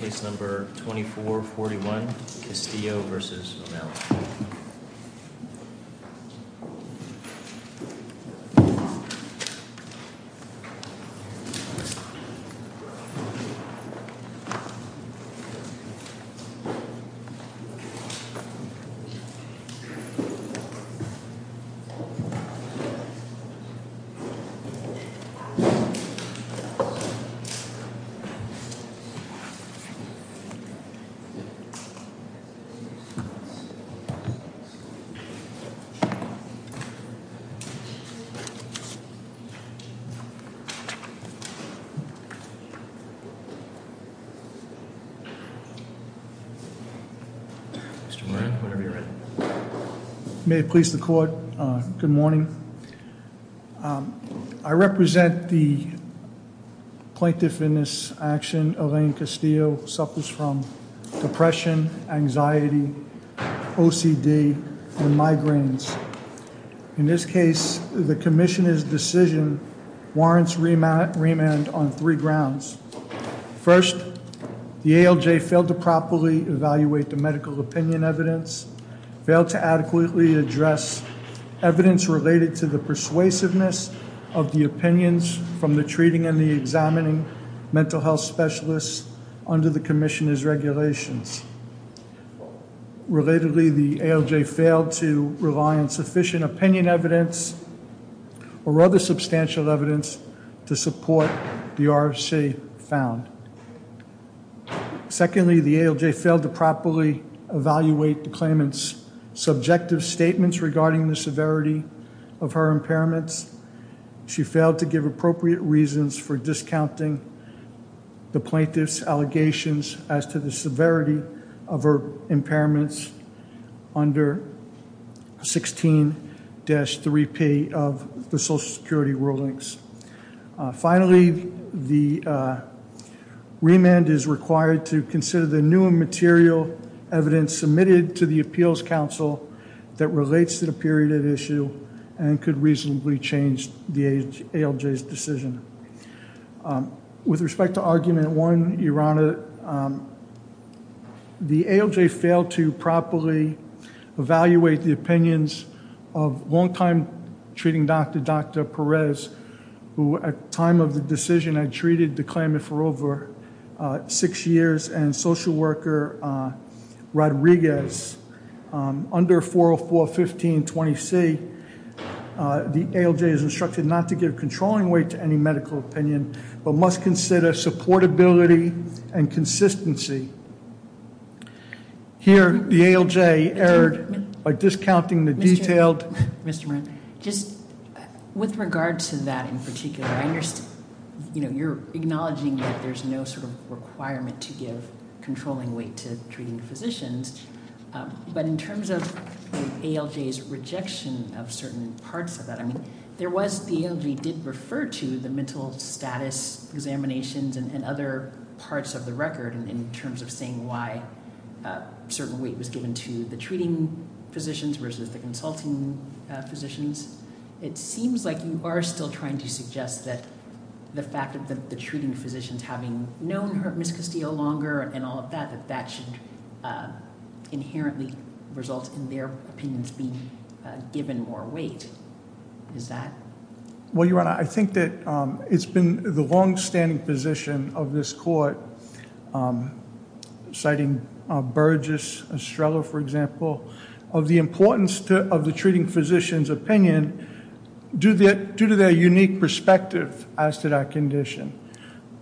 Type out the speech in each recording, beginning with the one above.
case number twenty four forty one Castillo v. Oâ±Malley Mr. Moran, whenever you're ready. May it please the court, good morning. I represent the plaintiff in this action Elaine Castillo suffers from depression, anxiety, OCD and migraines. In this case the commissioners decision warrants remand on three grounds. First, the ALJ failed to properly evaluate the medical opinion evidence, failed to adequately address evidence related to the persuasiveness of the opinions from the treating and the examining mental health specialists under the commissioners regulations. Relatedly, the ALJ failed to rely on sufficient opinion evidence or other substantial evidence to support the RFC found. Secondly, the ALJ to properly evaluate the claimants subjective statements regarding the severity of her impairments. She failed to give appropriate reasons for discounting the plaintiffs allegations as to the severity of her impairments under 16-3P of the Social Security rulings. Finally, the remand is required to consider the new material evidence submitted to the appeals council that relates to the period of issue and could reasonably change the ALJ's decision. With respect to argument one, Your Honor, the ALJ failed to properly evaluate the opinions of long time treating doctor, Dr. Perez, who at time of the decision had treated the claimant for over six years and social worker Rodriguez under 404-1520C, the ALJ is instructed not to give controlling weight to any medical opinion but must consider supportability and consistency. Here, the ALJ erred by discounting detailed- Mr. Moran, with regard to that in particular, you're acknowledging that there's no sort of requirement to give controlling weight to treating physicians, but in terms of ALJ's rejection of certain parts of that, I mean, the ALJ did refer to the mental status examinations and other parts of the record in terms of saying why certain weight was given to the treating physicians versus the consulting physicians. It seems like you are still trying to suggest that the fact that the treating physicians having known her, Ms. Castillo, longer and all of that, that that should inherently result in their opinions being given more weight. Is that- Well, Your Honor, I think that it's been the longstanding position of this court, citing Burgess, Estrella, for example, of the importance of the treating physician's opinion due to their unique perspective as to that condition.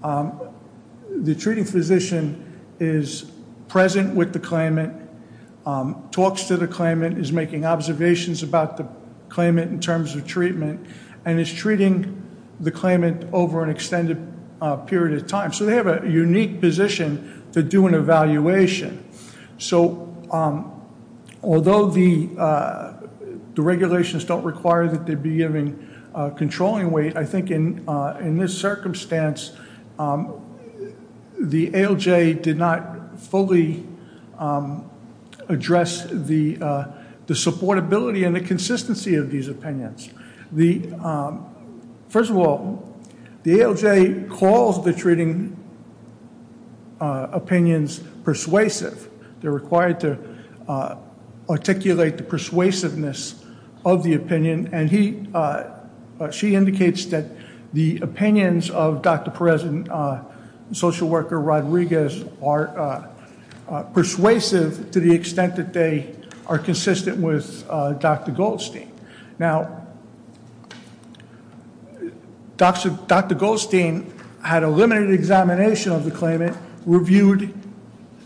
The treating physician is present with the claimant, talks to the claimant, is making observations about the claimant in terms of treatment, and is treating the claimant over an extended period of time. So they have a unique position to do an evaluation. So although the regulations don't require that they be given controlling weight, I think in this circumstance, the ALJ did not fully address the supportability and the consistency of these opinions. First of all, the ALJ calls the treating opinions persuasive. They're required to articulate the persuasiveness of the opinion, and she indicates that the opinions of Dr. Perez and social worker Rodriguez are persuasive to the extent that they are consistent with Dr. Goldstein. Now, Dr. Goldstein had a limited examination of the claimant, reviewed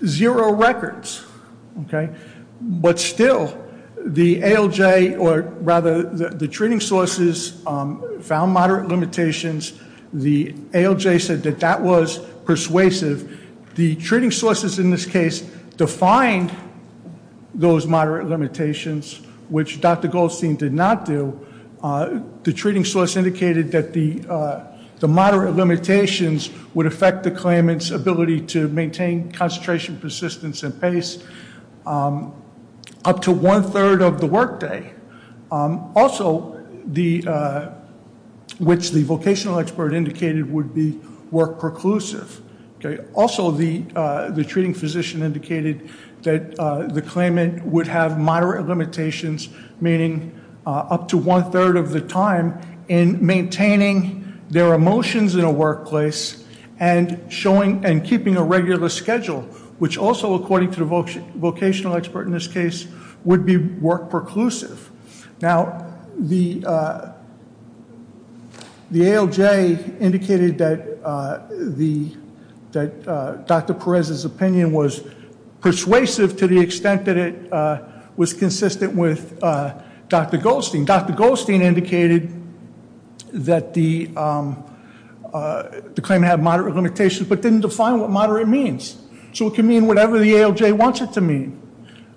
zero records, okay? But still, the ALJ or rather the treating sources found moderate limitations. The ALJ said that that was persuasive. The treating sources in this case defined those moderate limitations, which Dr. Goldstein did not do. The treating source indicated that the moderate limitations would affect the claimant's ability to maintain concentration, persistence, and pace up to one-third of the workday. Also, which the vocational expert indicated would be work-perclusive. Also, the treating physician indicated that the claimant would have moderate limitations, meaning up to one-third of the time in maintaining their emotions in a workplace and showing and keeping a regular schedule, which also according to the vocational expert in this case, Dr. Perez's opinion was persuasive to the extent that it was consistent with Dr. Goldstein. Dr. Goldstein indicated that the claimant had moderate limitations, but didn't define what moderate means. So it can mean whatever the ALJ wants it to mean,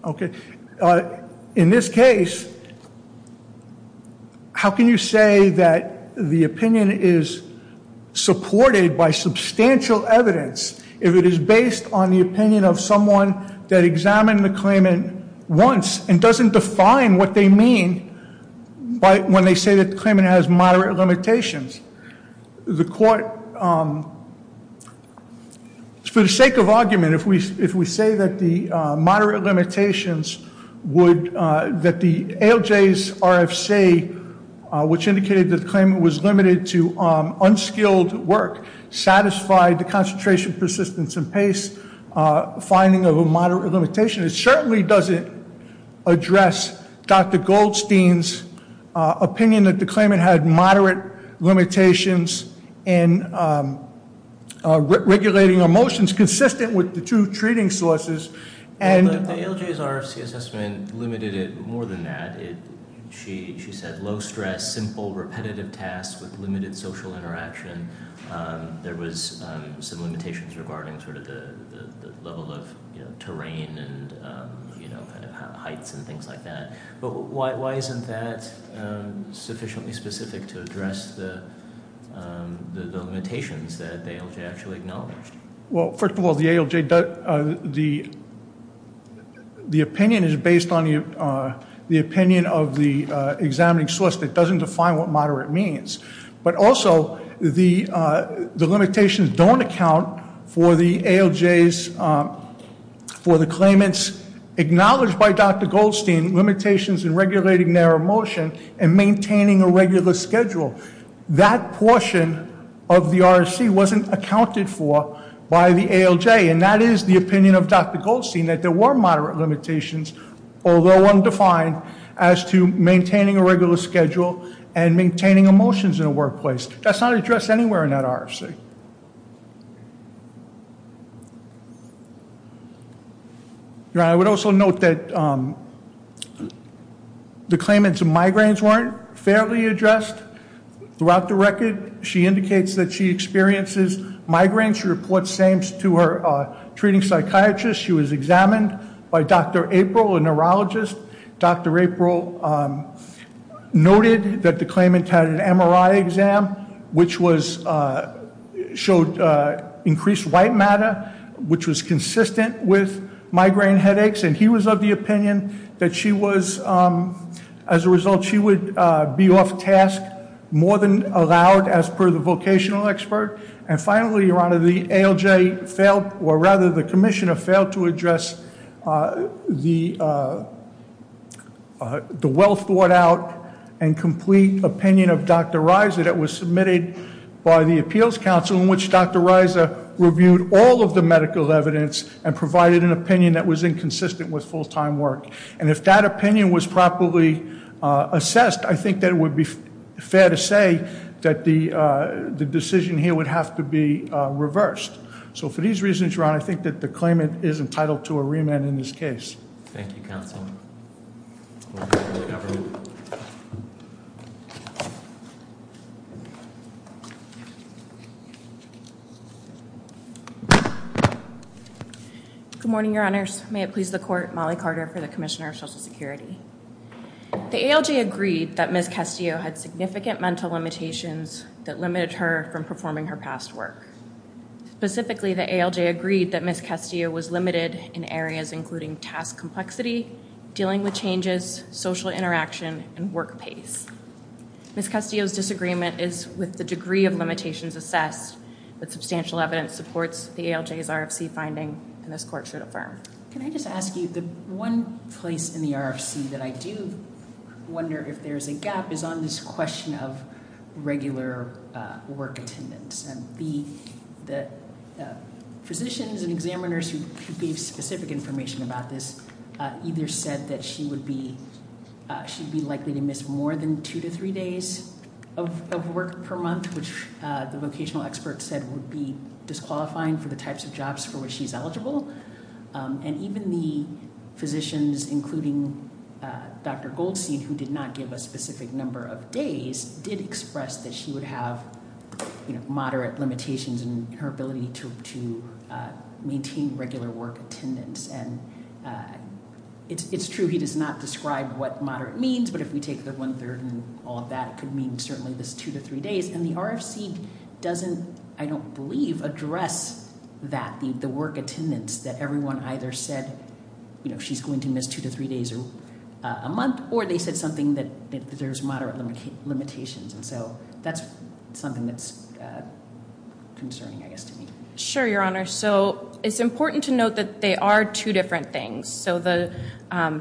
okay? In this case, how can you say that the opinion is supported by substantial evidence if it is based on the opinion of someone that examined the claimant once and doesn't define what they mean when they say that the claimant has moderate limitations? The court, for the sake of argument, if we say that the ALJ's RFC, which indicated that the claimant was limited to unskilled work, satisfied the concentration, persistence, and pace finding of a moderate limitation, it certainly doesn't address Dr. Goldstein's opinion that the claimant had moderate limitations in regulating emotions consistent with the two treating sources. The ALJ's RFC assessment limited it more than that. She said low stress, simple, repetitive tasks with limited social interaction. There was some limitations regarding the level of terrain and heights and things like that. But why isn't that sufficiently specific to address the limitations that the ALJ actually acknowledged? Well, first of all, the ALJ, the opinion is based on the opinion of the examining source that doesn't define what moderate means. But also, the limitations don't account for the ALJ's, for the claimant's acknowledged by Dr. Goldstein limitations in regulating their emotion and maintaining a regular schedule. That portion of the RFC wasn't accounted for by the ALJ. And that is the opinion of Dr. Goldstein, that there were moderate limitations, although undefined, as to maintaining a regular schedule and maintaining emotions in the workplace. That's not addressed anywhere in that RFC. Now, I would also note that the claimant's migraines weren't fairly addressed throughout the record. She indicates that she experiences migraines. She reports same to her treating psychiatrist. She was examined by Dr. April, a neurologist. Dr. April noted that the claimant had an MRI exam, which showed increased white matter, which was consistent with migraine headaches. And he was of the opinion that she was, as a result, she would be off task more than allowed, as per the vocational expert. And finally, your honor, the ALJ failed, or rather, the commissioner failed to address the well thought out and complete opinion of Dr. Reiser that was submitted by the appeals council in which Dr. Reiser reviewed all of the medical evidence and provided an opinion that was inconsistent with full-time work. And if that opinion was properly assessed, I think that it would be fair to say that the decision here would have to be reversed. So for these reasons, your honor, I think that the claimant is entitled to a remand in this case. Thank you, counsel. Good morning, your honors. May it please the court, Molly Carter for the commissioner of social security. The ALJ agreed that Ms. Castillo had significant mental limitations that limited her from performing her past work. Specifically, the ALJ agreed that Ms. Castillo was limited in areas including task complexity, dealing with changes, social interaction, and work pace. Ms. Castillo's disagreement is with the degree of limitations assessed, but substantial evidence supports the ALJ's RFC finding, and this court should affirm. Can I just ask you, the one place in the RFC that I do wonder if there's a gap is on this question of regular work attendance. And the physicians and examiners who gave specific information about this either said that she would be, she'd be likely to miss more than two to three days of work per month, which the vocational expert said would be disqualifying for the types of jobs for which she's eligible. And even the physicians, including Dr. Goldstein, who did not give a specific number of days, did express that she would have, you know, moderate limitations in her ability to maintain regular work attendance. And it's true he does not describe what moderate means, but if we take the one third and all of that, it could mean certainly this two to three days. And the RFC doesn't, I don't believe, address that, the work attendance that everyone either said, you know, she's going to miss two to three days a month, or they said something that there's moderate limitations. And so that's something that's concerning, I guess, to me. Sure, your honor. So it's important to note that they are two different things. So the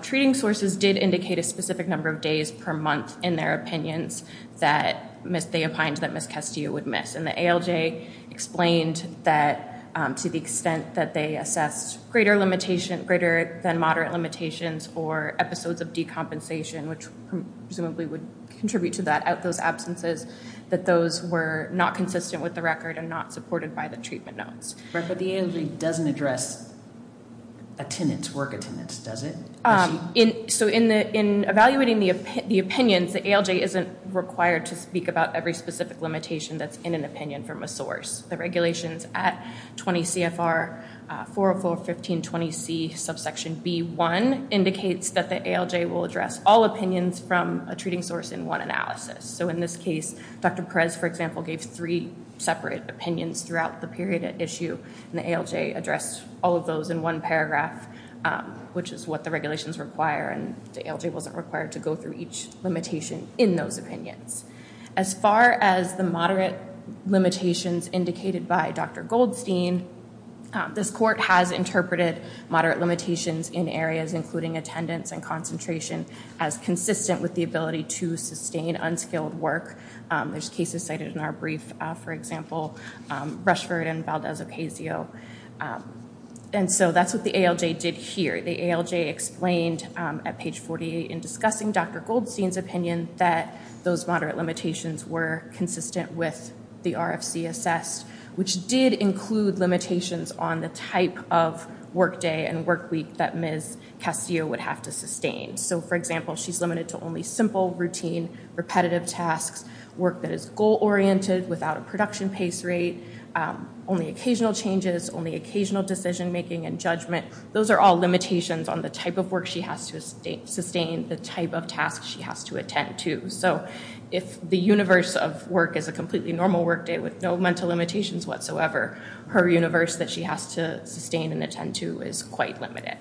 treating sources did indicate a specific number of days per month in their opinions that they opined that Ms. Castillo would miss. And the ALJ explained that to the extent that they assessed greater limitation, greater than moderate limitations, or episodes of decompensation, which presumably would contribute to that, out those absences, that those were not consistent with the record and not supported by the treatment notes. But the ALJ doesn't address attendance, work attendance, does it? So in evaluating the opinions, the ALJ isn't required to speak about every specific limitation that's in an opinion from a source. The regulations at 20 CFR 404.15.20C subsection B1 indicates that the ALJ will address all opinions from a treating source in one analysis. So in this case, Dr. Perez, for example, gave three separate opinions throughout the period at issue, and the ALJ addressed all of those in one paragraph, which is what the regulations require, and the ALJ wasn't required to go through each limitation in those opinions. As far as the moderate limitations indicated by Dr. Goldstein, this court has interpreted moderate limitations in areas including attendance and concentration as consistent with the ability to sustain unskilled work. There's cases cited in our brief, for example, Rushford and Valdez-Ocasio. And so that's what the ALJ did here. The ALJ explained at page 48 in discussing Dr. Goldstein's those moderate limitations were consistent with the RFC assessed, which did include limitations on the type of work day and work week that Ms. Ocasio would have to sustain. So for example, she's limited to only simple, routine, repetitive tasks, work that is goal-oriented without a production pace rate, only occasional changes, only occasional decision making and judgment. Those are all limitations on the type of work she has to sustain, the type of tasks she has to attend to. So if the universe of work is a completely normal work day with no mental limitations whatsoever, her universe that she has to sustain and attend to is quite limited.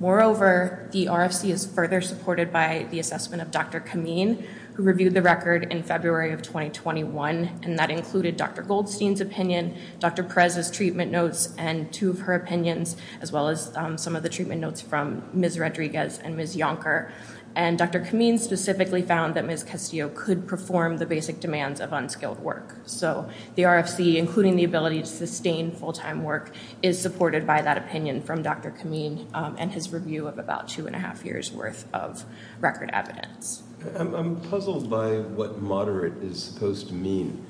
Moreover, the RFC is further supported by the assessment of Dr. Kameen, who reviewed the record in February of 2021, and that included Dr. Goldstein's opinion, Dr. Perez's treatment notes, and two of her opinions, as well as some of the treatment notes from Ms. Rodriguez and Ms. Yonker. And Dr. Kameen specifically found that Ms. Ocasio could perform the basic demands of unskilled work. So the RFC, including the ability to sustain full-time work, is supported by that opinion from Dr. Kameen and his review of about two and a half years worth of record evidence. I'm puzzled by what moderate is supposed to mean.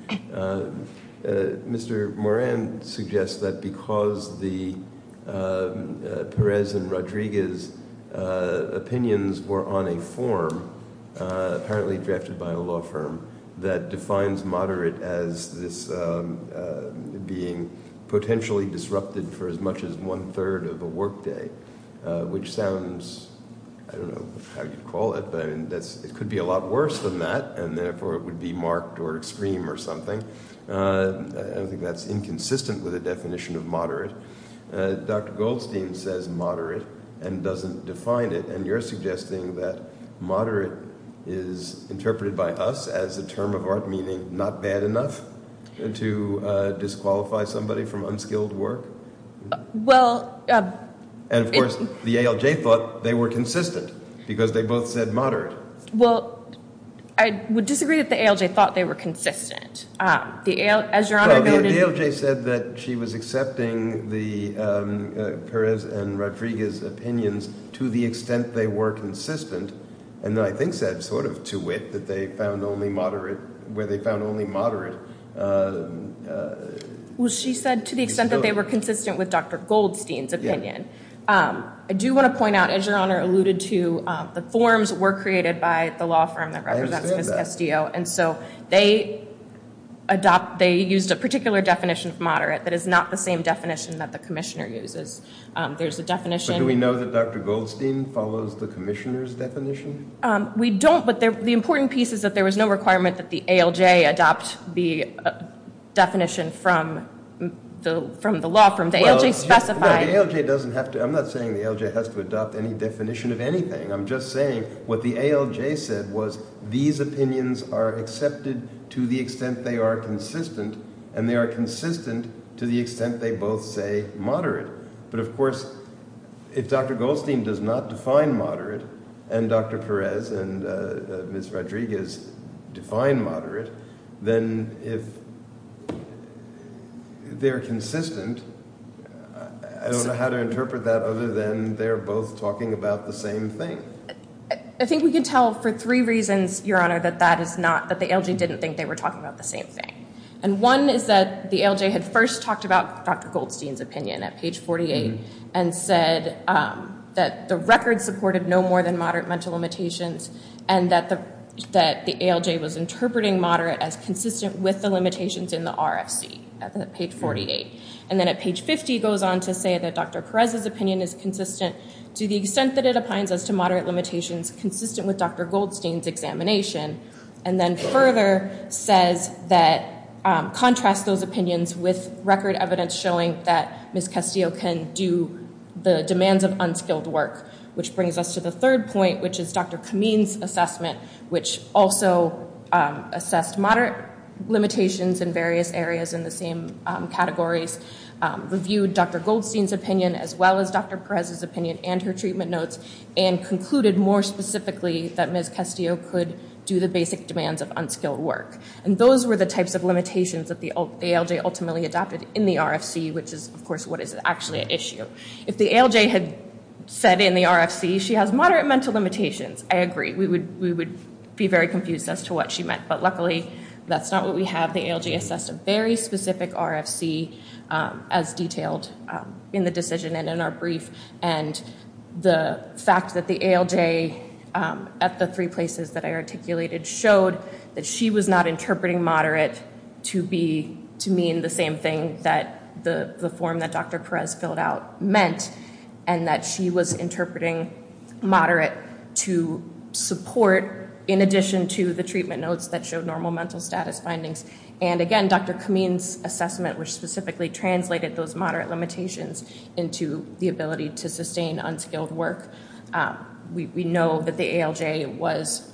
Mr. Moran suggests that because the Perez and Rodriguez opinions were on a form, apparently drafted by a law firm, that defines moderate as this being potentially disrupted for as much as one-third of a work day, which sounds, I don't know how you'd call it, but I mean, it could be a lot worse than that, and therefore it would be marked or extreme or something. I don't think that's inconsistent with the definition of moderate. Dr. Goldstein says moderate and doesn't define it, and you're suggesting that moderate is interpreted by us as a term of art meaning not bad enough to disqualify somebody from unskilled work? And of course, the ALJ thought they were consistent because they both said moderate. Well, I would disagree that the ALJ thought they were consistent. The ALJ said that she was accepting the Perez and Rodriguez opinions to the extent they were consistent, and I think said sort of to wit that they found only moderate where they found only moderate. Well, she said to the extent that they were consistent with Dr. Goldstein's opinion. I do want to point out, as Your Honor alluded to, the forms were created by the law firm that represents Castillo, and so they adopt, they used a particular definition of moderate that is not the same definition that the commissioner uses. There's a definition. Do we know that Dr. Goldstein follows the commissioner's definition? We don't, but the important piece is that there was no requirement that the ALJ adopt the definition from the law firm. The ALJ specified. No, the ALJ doesn't have to. I'm not saying the ALJ has to adopt any definition of anything. I'm just saying what the ALJ said was these opinions are accepted to the extent they are consistent, and they are consistent to the extent they both say moderate, but of course, if Dr. Goldstein does not define moderate and Dr. Perez and Ms. Rodriguez define moderate, then if they're consistent, I don't know how to interpret that other than they're both talking about the same thing. I think we can tell for three reasons, Your Honor, that the ALJ didn't think they were talking about the same thing, and one is that the ALJ had first talked about Dr. Goldstein's opinion at page 48 and said that the record supported no more than moderate mental limitations and that the ALJ was interpreting moderate as consistent with the limitations in the RFC at page 48, and then at page 50 goes on to say that Dr. Perez's opinion is consistent to the extent that it applies as to moderate limitations consistent with Dr. Goldstein's examination, and then further says that contrast those opinions with record evidence showing that Ms. Castillo can do the demands of unskilled work, which brings us to the third point, which is Dr. Kameen's assessment, which also assessed moderate limitations in various areas in the same categories, reviewed Dr. Goldstein's opinion as well as Dr. Perez's opinion and her treatment notes, and concluded more specifically that Ms. Castillo could do the basic demands of unskilled work, and those were the types of limitations that the ALJ ultimately adopted in the RFC, which is, of course, what is actually an issue. If the ALJ had said in the RFC she has moderate mental limitations, I agree, we would be very confused as to what she meant, but luckily that's not what we have. The ALJ assessed a very specific RFC as detailed in the decision and in our brief, and the fact that the ALJ at the three places that I articulated showed that she was not interpreting moderate to mean the same thing that the form that Dr. Perez filled out meant, and that she was interpreting moderate to support in addition to the treatment status findings, and again Dr. Kameen's assessment, which specifically translated those moderate limitations into the ability to sustain unskilled work. We know that the ALJ was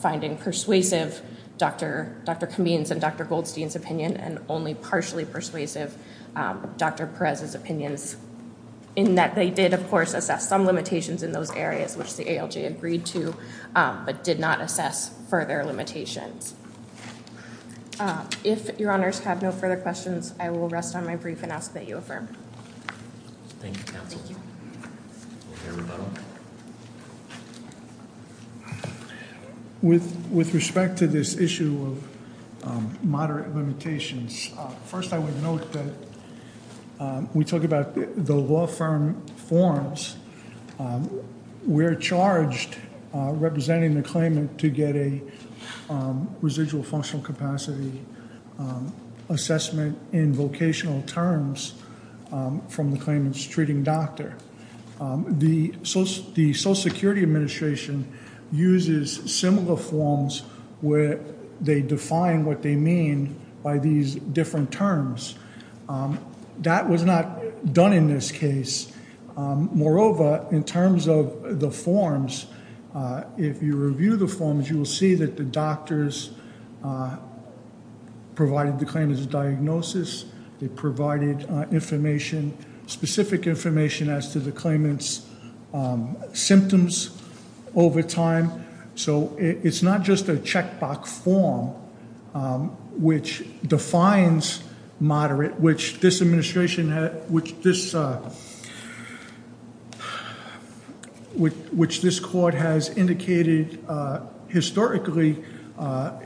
finding persuasive Dr. Kameen's and Dr. Goldstein's opinion, and only partially persuasive Dr. Perez's opinions, in that they did, of course, assess some limitations in those areas which the ALJ agreed to, but did not assess further limitations. If your honors have no further questions, I will rest on my brief and ask that you affirm. Thank you, counsel. With respect to this issue of moderate limitations, first I would note that when we talk about the law firm forms, we're charged representing the claimant to get a residual functional capacity assessment in vocational terms from the claimant's treating doctor. The Social Security Administration uses similar forms where they define what they mean by these different terms. That was not done in this case. Moreover, in terms of the forms, if you review the forms, you will see that the doctors provided the claimant's diagnosis, they provided information, specific information as to the claimant's symptoms over time. So it's not just a checkbox form which defines moderate, which this administration, which this court has indicated historically,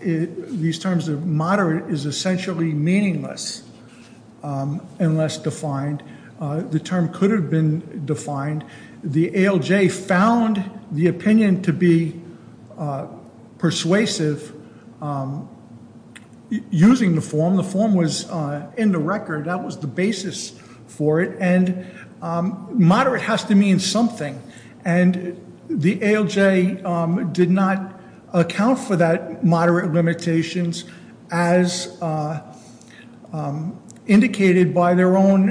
these terms of moderate is essentially meaningless and less defined. The term could have been defined. The ALJ found the opinion to be persuasive using the form. The form was in the record. That was the basis for it. And moderate has to mean something. And the ALJ did not account for that moderate limitations as indicated by their own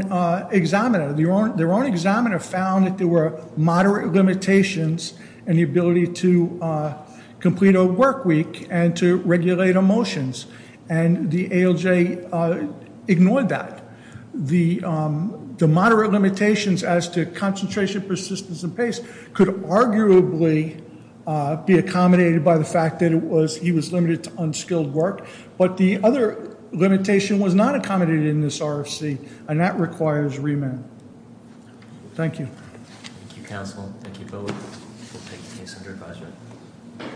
examiner. Their own examiner found that there were moderate limitations in the ability to complete a work week and to regulate emotions. And the ALJ ignored that. The moderate limitations as to concentration, persistence, and pace could arguably be accommodated by the fact that he was limited to unskilled work. But the other limitation was not RFC. And that requires remand. Thank you. Thank you, counsel. Thank you both.